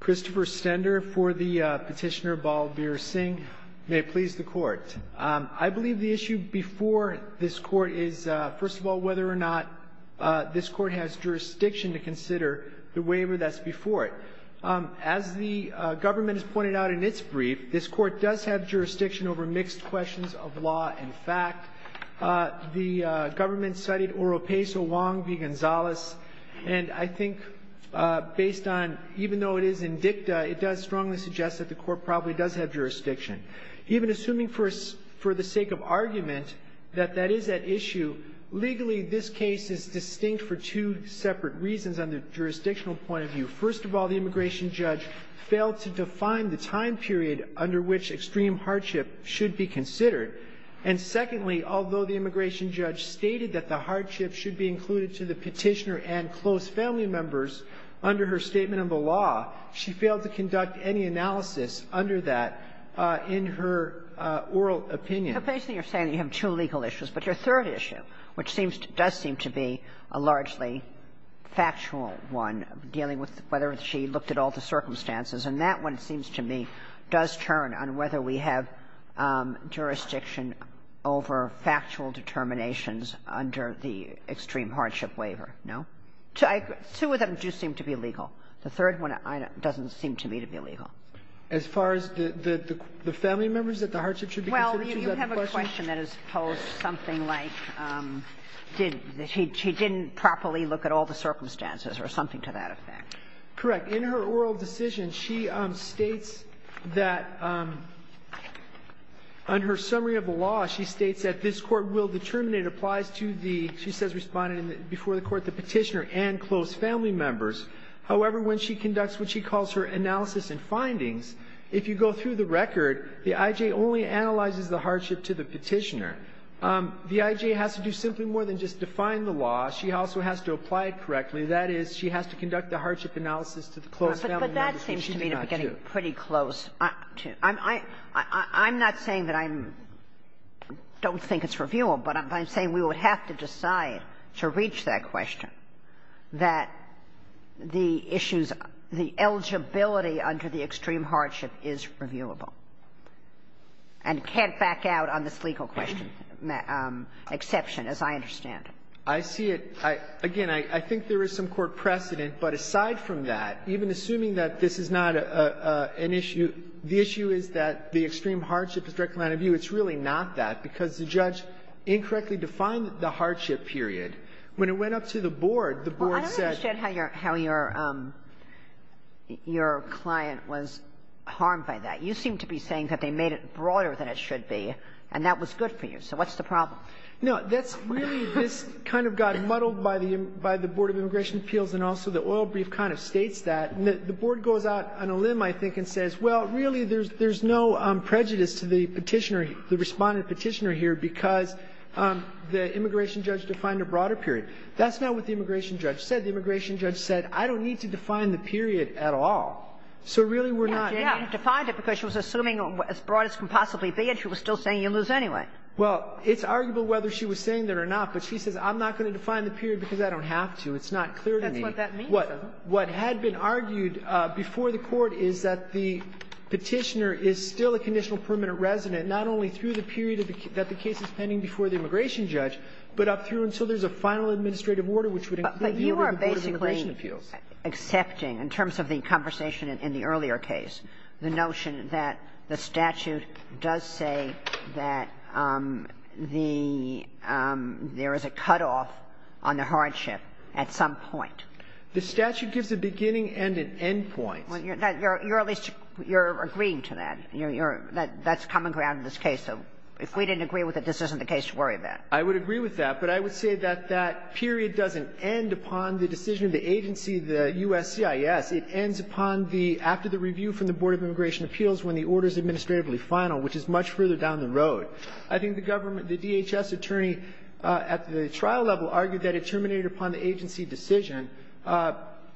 Christopher Stender for the petitioner Balbir Singh. May it please the court. I believe the issue before this court is, first of all, whether or not this court has jurisdiction to consider the waiver that's before it. As the government has pointed out in its brief, this court does have jurisdiction over mixed questions of law and fact. The government cited Oropeso Wong v. Gonzalez, and I think based on, even though it is in dicta, it does strongly suggest that the court probably does have jurisdiction. Even assuming for the sake of argument that that is at issue, legally this case is distinct for two separate reasons on the jurisdictional point of view. First of all, the immigration judge failed to define the time period under which extreme hardship should be considered. And secondly, although the immigration judge stated that the hardship should be included to the petitioner and close family members under her statement of the law, she failed to conduct any analysis under that in her oral opinion. Kagan. So basically you're saying you have two legal issues, but your third issue, which seems to be a largely factual one, dealing with whether she looked at all the circumstances, and that one, it seems to me, does turn on whether we have jurisdiction over factual determinations under the extreme hardship waiver, no? Two of them do seem to be legal. The third one doesn't seem to me to be legal. As far as the family members that the hardship should be considered, you have a question that is posed something like, did he or she didn't properly look at all the circumstances or something to that effect. Correct. In her oral decision, she states that on her summary of the law, the family members that the hardship should be considered, she states that this Court will determine it applies to the, she says, Respondent before the Court, the petitioner and close family members. However, when she conducts what she calls her analysis and findings, if you go through the record, the I.J. only analyzes the hardship to the petitioner. The I.J. has to do simply more than just define the law. She also has to apply it correctly. That is, she has to conduct the hardship analysis to the close family members that she's not due. Kagan. But that seems to me to be getting pretty close. I'm not saying that I'm don't think it's reviewable, but I'm saying we would have to decide to reach that question that the issues, the eligibility under the extreme hardship is reviewable and can't back out on this legal question, exception, as I understand it. I see it. Again, I think there is some court precedent. But aside from that, even assuming that this is not an issue, the issue is that the extreme hardship is directly line of view. It's really not that, because the judge incorrectly defined the hardship period. When it went up to the Board, the Board said that the hardship period is not an issue. Kagan. Well, I don't understand how your client was harmed by that. You seem to be saying that they made it broader than it should be, and that was good for you. So what's the problem? No. That's really this kind of got muddled by the Board of Immigration Appeals, and also the oil brief kind of states that. The Board goes out on a limb, I think, and says, well, really, there's no prejudice to the Petitioner, the Respondent-Petitioner here, because the immigration judge defined a broader period. That's not what the immigration judge said. The immigration judge said, I don't need to define the period at all. So really, we're not going to define it, because she was assuming as broad as it could possibly be, and she was still saying you lose anyway. Well, it's arguable whether she was saying that or not, but she says, I'm not going to define the period, because I don't have to. It's not clear to me. That's what that means, though. What had been argued before the Court is that the Petitioner is still a conditional permanent resident, not only through the period that the case is pending before the immigration judge, but up through until there's a final administrative order, which would include the Board of Immigration Appeals. But you are basically accepting, in terms of the conversation in the earlier case, the notion that the statute does say that the – there is a cutoff on the hardship at some point. The statute gives a beginning and an end point. Well, you're at least – you're agreeing to that. You're – that's common ground in this case. So if we didn't agree with it, this isn't the case to worry about. I would agree with that, but I would say that that period doesn't end upon the decision of the agency, the USCIS. It ends upon the – after the review from the Board of Immigration Appeals when the order is administratively final, which is much further down the road. I think the government – the DHS attorney at the trial level argued that it terminated upon the agency decision.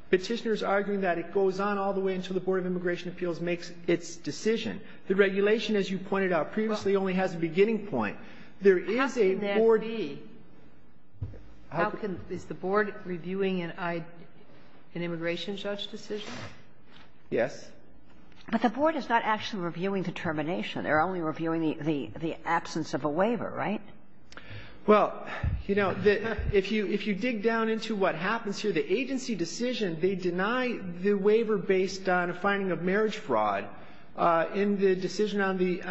Petitioner is arguing that it goes on all the way until the Board of Immigration Appeals makes its decision. The regulation, as you pointed out previously, only has a beginning point. There is a Board – How can that be? How can – is the Board reviewing an immigration judge? Yes. But the Board is not actually reviewing the termination. They're only reviewing the absence of a waiver, right? Well, you know, if you dig down into what happens here, the agency decision, they deny the waiver based on a finding of marriage fraud. In the decision on the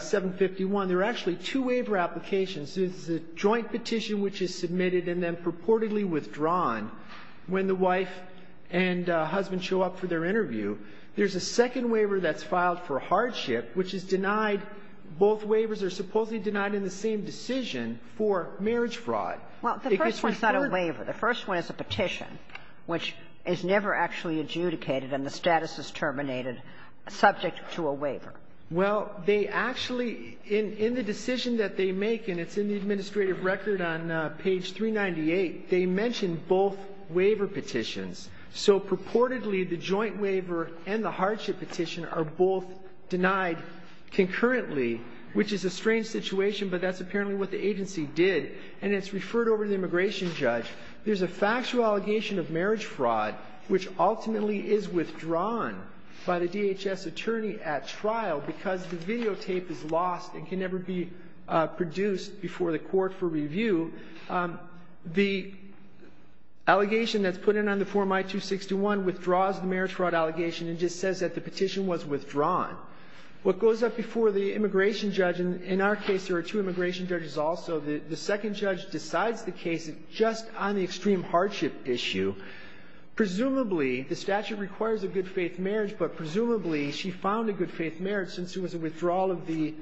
751, there are actually two waiver applications. There's a joint petition which is submitted and then purportedly withdrawn when the wife and husband show up for their interview. There's a second waiver that's filed for hardship, which is denied – both waivers are supposedly denied in the same decision for marriage fraud. Well, the first one's not a waiver. The first one is a petition, which is never actually adjudicated and the status is terminated subject to a waiver. Well, they actually – in the decision that they make, and it's in the administrative record on page 398, they mention both waiver petitions. So purportedly, the joint waiver and the hardship petition are both denied concurrently, which is a strange situation, but that's apparently what the agency did. And it's referred over to the immigration judge. There's a factual allegation of marriage fraud, which ultimately is withdrawn by the DHS attorney at trial because the videotape is lost and can never be produced before the court for review. The allegation that's put in on the Form I-261 withdraws the marriage fraud allegation and just says that the petition was withdrawn. What goes up before the immigration judge – and in our case, there are two immigration judges also – the second judge decides the case just on the extreme hardship issue. Presumably, the statute requires a good-faith marriage, but presumably, she found a good-faith marriage since it was a withdrawal of the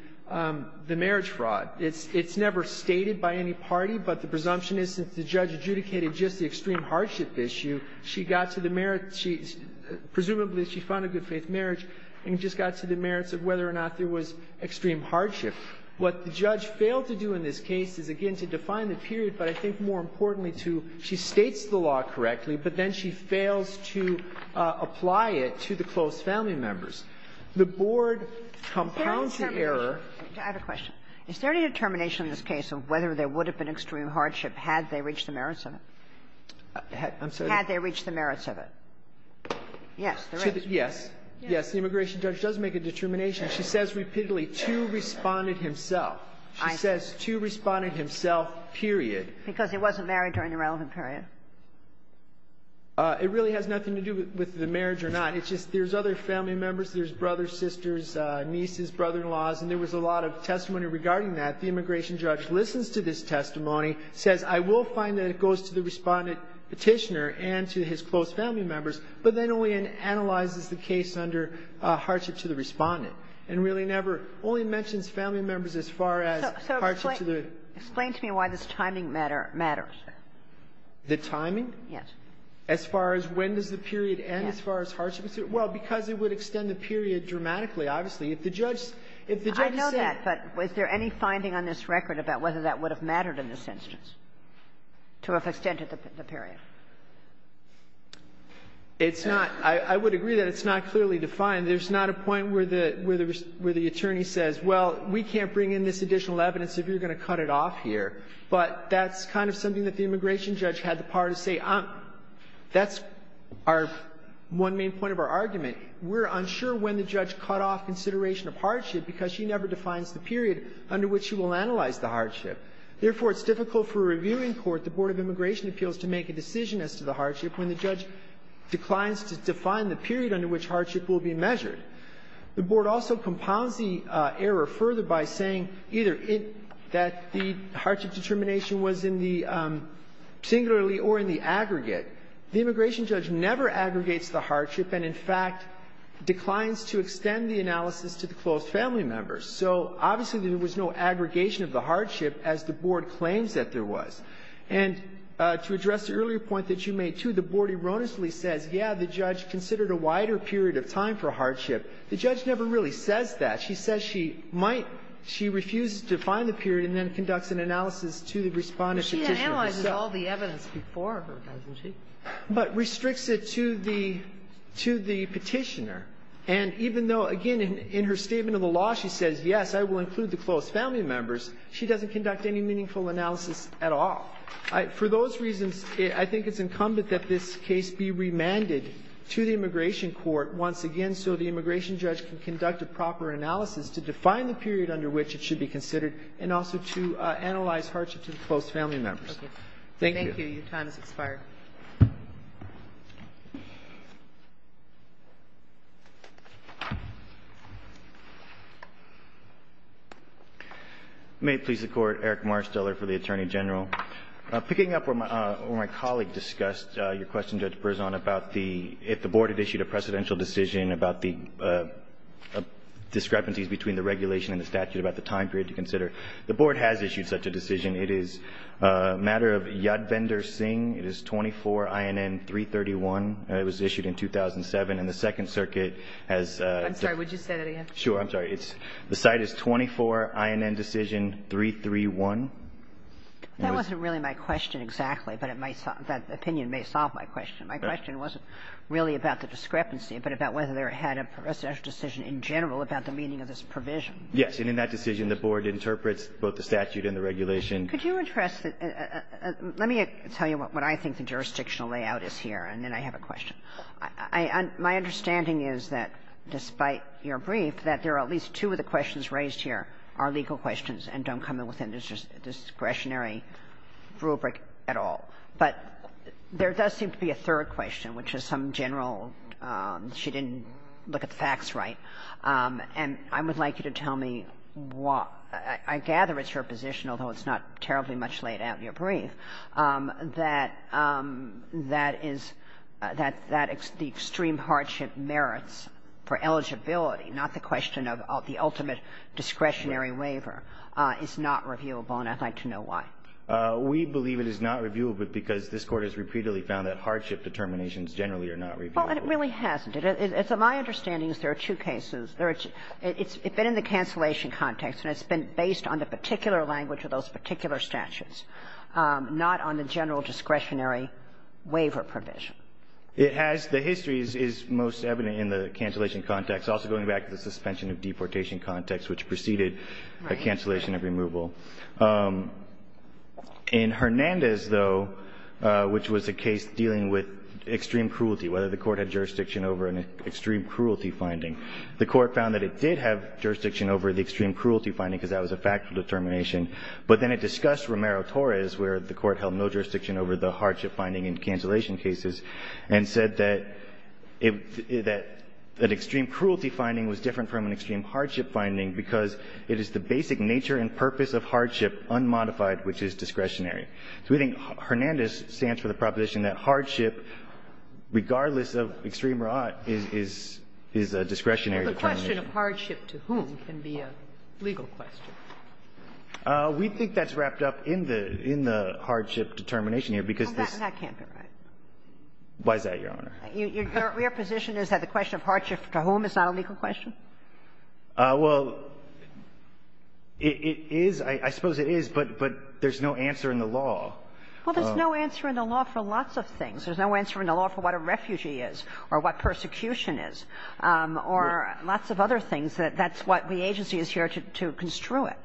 marriage fraud. It's never stated by any party, but the presumption is since the judge adjudicated just the extreme hardship issue, she got to the merit – presumably, she found a good-faith marriage and just got to the merits of whether or not there was extreme hardship. What the judge failed to do in this case is, again, to define the period, but I think more importantly to – she states the law correctly, but then she fails to apply it to the close family members. The Board compounds the error. I have a question. Is there any determination in this case of whether there would have been extreme hardship had they reached the merits of it? I'm sorry? Had they reached the merits of it. Yes, there is. Yes. Yes. The immigration judge does make a determination. She says repeatedly, to respondent himself. She says to respondent himself, period. Because he wasn't married during the relevant period. It really has nothing to do with the marriage or not. It's just there's other family members. There's brothers, sisters, nieces, brother-in-laws, and there was a lot of testimony regarding that. The immigration judge listens to this testimony, says, I will find that it goes to the respondent Petitioner and to his close family members, but then only analyzes the case under hardship to the respondent, and really never – only mentions family members as far as hardship to the – So explain to me why this timing matter – matters. The timing? Yes. As far as when does the period end as far as hardship? Well, because it would extend the period dramatically, obviously. If the judge – if the judge said – I know that, but was there any finding on this record about whether that would have mattered in this instance, to have extended the period? It's not – I would agree that it's not clearly defined. There's not a point where the attorney says, well, we can't bring in this additional evidence if you're going to cut it off here. But that's kind of something that the immigration judge had the power to say. That's our – one main point of our argument. We're unsure when the judge cut off consideration of hardship because she never defines the period under which she will analyze the hardship. Therefore, it's difficult for a reviewing court, the Board of Immigration Appeals, to make a decision as to the hardship when the judge declines to define the period under which hardship will be measured. And to address the earlier point that you made, too, the Board erroneously says, yeah, the judge considered a wider period of time for hardship. The judge never really says that. She says she might – she refuses to define the period and then conducts an analysis to the Respondent's Petitioner. But she analyzes all the evidence before her, doesn't she? But restricts it to the Petitioner. And even though, again, in her statement of the law, she says, yes, I will include the close family members, she doesn't conduct any meaningful analysis at all. For those reasons, I think it's incumbent that this case be remanded to the immigration court once again so the immigration judge can conduct a proper analysis to define the period under which it should be considered and also to analyze hardship to the close family members. Thank you. Thank you. Your time has expired. May it please the Court. Eric Marsteller for the Attorney General. Picking up where my colleague discussed your question, Judge Berzon, about the – if there is a precedential decision about the discrepancies between the regulation and the statute about the time period to consider, the Board has issued such a decision. It is a matter of Yad Vendor Singh. It is 24 INN 331. It was issued in 2007. And the Second Circuit has the – I'm sorry. Would you say that again? Sure. I'm sorry. It's – the site is 24 INN decision 331. That wasn't really my question exactly, but it might – that opinion may solve my question. My question wasn't really about the discrepancy, but about whether there had a precedential decision in general about the meaning of this provision. Yes. And in that decision, the Board interprets both the statute and the regulation. Could you address the – let me tell you what I think the jurisdictional layout is here, and then I have a question. I – my understanding is that despite your brief, that there are at least two of the questions raised here are legal questions and don't come within the discretionary rubric at all. But there does seem to be a third question, which is some general – she didn't look at the facts right. And I would like you to tell me why – I gather it's your position, although it's not terribly much laid out in your brief, that that is – that the extreme hardship merits for eligibility, not the question of the ultimate discretionary waiver, is not reviewable, and I'd like to know why. We believe it is not reviewable because this Court has repeatedly found that hardship determinations generally are not reviewable. Well, and it really hasn't. It's – my understanding is there are two cases. There are – it's been in the cancellation context, and it's been based on the particular language of those particular statutes, not on the general discretionary waiver provision. It has – the history is most evident in the cancellation context, also going back to the suspension of deportation context, which preceded the cancellation of removal. In Hernandez, though, which was a case dealing with extreme cruelty, whether the Court had jurisdiction over an extreme cruelty finding, the Court found that it did have jurisdiction over the extreme cruelty finding because that was a factual determination. But then it discussed Romero-Torres, where the Court held no jurisdiction over the hardship finding in cancellation cases, and said that it – that an extreme cruelty finding was different from an extreme hardship finding because it is the basic nature and purpose of hardship unmodified, which is discretionary. So we think Hernandez stands for the proposition that hardship, regardless of extreme or odd, is – is a discretionary determination. Well, the question of hardship to whom can be a legal question. We think that's wrapped up in the – in the hardship determination here, because this – Well, that can't be right. Why is that, Your Honor? Your position is that the question of hardship to whom is not a legal question? Well, it is. I suppose it is, but – but there's no answer in the law. Well, there's no answer in the law for lots of things. There's no answer in the law for what a refugee is or what persecution is or lots of other things. That's what the agency is here to – to construe it.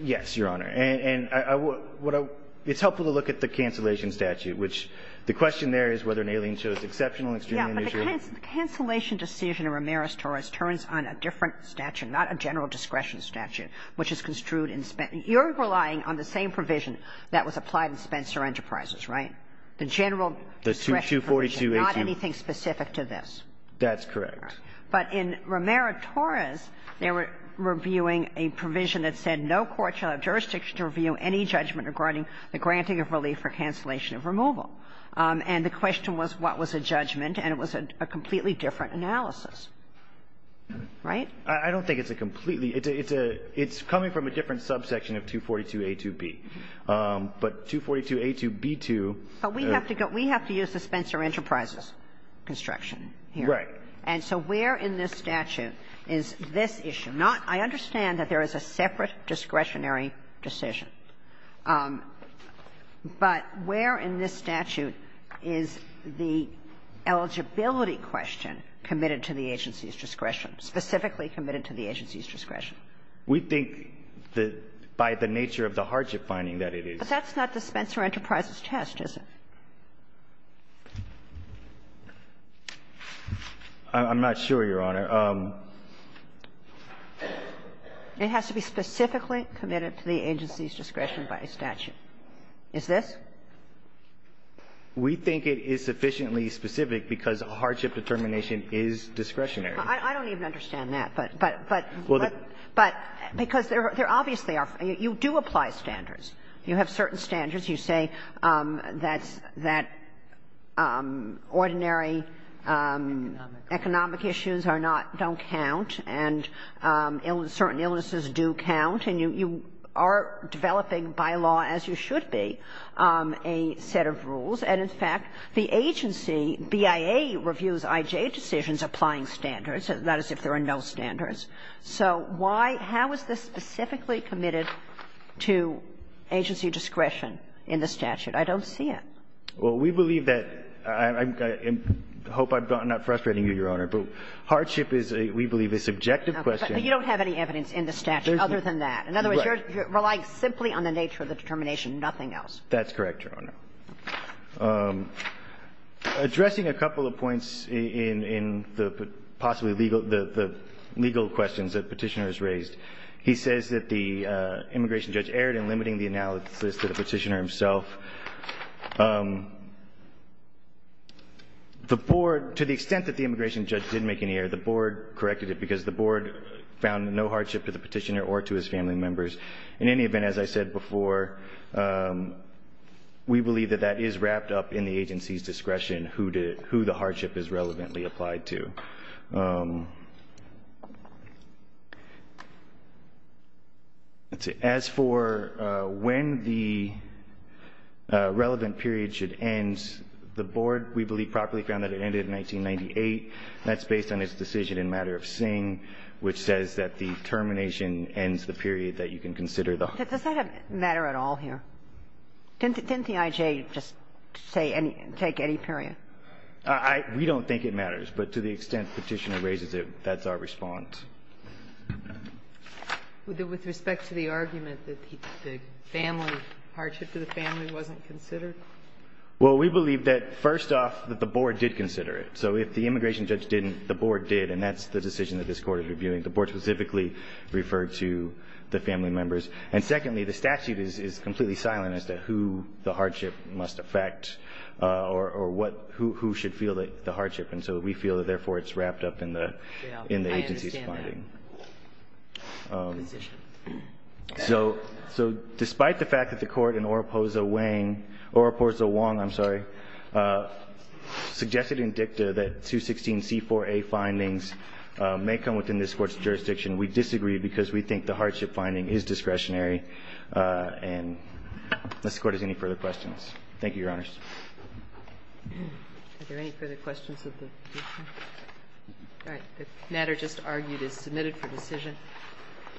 Yes, Your Honor. And I – what I – it's helpful to look at the cancellation statute, which the question there is whether an alien show is exceptional, extreme, or unusual. The cancellation decision in Ramirez-Torres turns on a different statute, not a general discretion statute, which is construed in – you're relying on the same provision that was applied in Spencer Enterprises, right? The general discretion provision, not anything specific to this. That's correct. But in Ramirez-Torres, they were reviewing a provision that said no court shall have jurisdiction to review any judgment regarding the granting of relief for cancellation of removal. And the question was what was a judgment, and it was a completely different analysis, right? I don't think it's a completely – it's a – it's coming from a different subsection of 242a2b. But 242a2b2 – But we have to go – we have to use the Spencer Enterprises construction here. Right. And so where in this statute is this issue? Not – I understand that there is a separate discretionary decision. But where in this statute is the eligibility question committed to the agency's discretion, specifically committed to the agency's discretion? We think that by the nature of the hardship finding that it is. But that's not the Spencer Enterprises test, is it? I'm not sure, Your Honor. It has to be specifically committed to the agency's discretion by statute. Is this? We think it is sufficiently specific because a hardship determination is discretionary. I don't even understand that. But – but – but because there obviously are – you do apply standards. You have certain standards. You say that's – that ordinary economic issues are not – don't count, and certain illnesses do count, and you are developing by law, as you should be, a set of rules. And in fact, the agency, BIA, reviews IJ decisions applying standards, not as if there are no standards. So why – how is this specifically committed to agency discretion? In the statute, I don't see it. Well, we believe that – I hope I'm not frustrating you, Your Honor. But hardship is, we believe, a subjective question. But you don't have any evidence in the statute other than that. In other words, you're relying simply on the nature of the determination, nothing else. That's correct, Your Honor. Addressing a couple of points in the possibly legal – the legal questions that Petitioner has raised, he says that the immigration judge erred in limiting the analysis to the Petitioner himself. The Board – to the extent that the immigration judge did make any error, the Board corrected it because the Board found no hardship to the Petitioner or to his family members. In any event, as I said before, we believe that that is wrapped up in the agency's discretion who the hardship is relevantly applied to. As for when the relevant period should end, the Board, we believe, properly found that it ended in 1998, and that's based on its decision in matter of Singh, which says that the termination ends the period that you can consider the – Does that matter at all here? Didn't the I.J. just say any – take any period? We don't think it matters, but to the extent Petitioner raises it, that's our response. With respect to the argument that the family – hardship to the family wasn't considered? Well, we believe that, first off, that the Board did consider it. So if the immigration judge didn't, the Board did, and that's the decision that this Court is reviewing. The Board specifically referred to the family members. And secondly, the statute is completely silent as to who the hardship must affect or what – who should feel the hardship. And so we feel that, therefore, it's wrapped up in the agency's finding. I understand that. So despite the fact that the Court in Oropoza-Wang – Oropoza-Wong, I'm sorry, suggested in dicta that 216c4a findings may come within this Court's jurisdiction, we disagree because we think the hardship finding is discretionary. And if this Court has any further questions. Thank you, Your Honors. Are there any further questions of the – all right. The matter just argued is submitted for decision.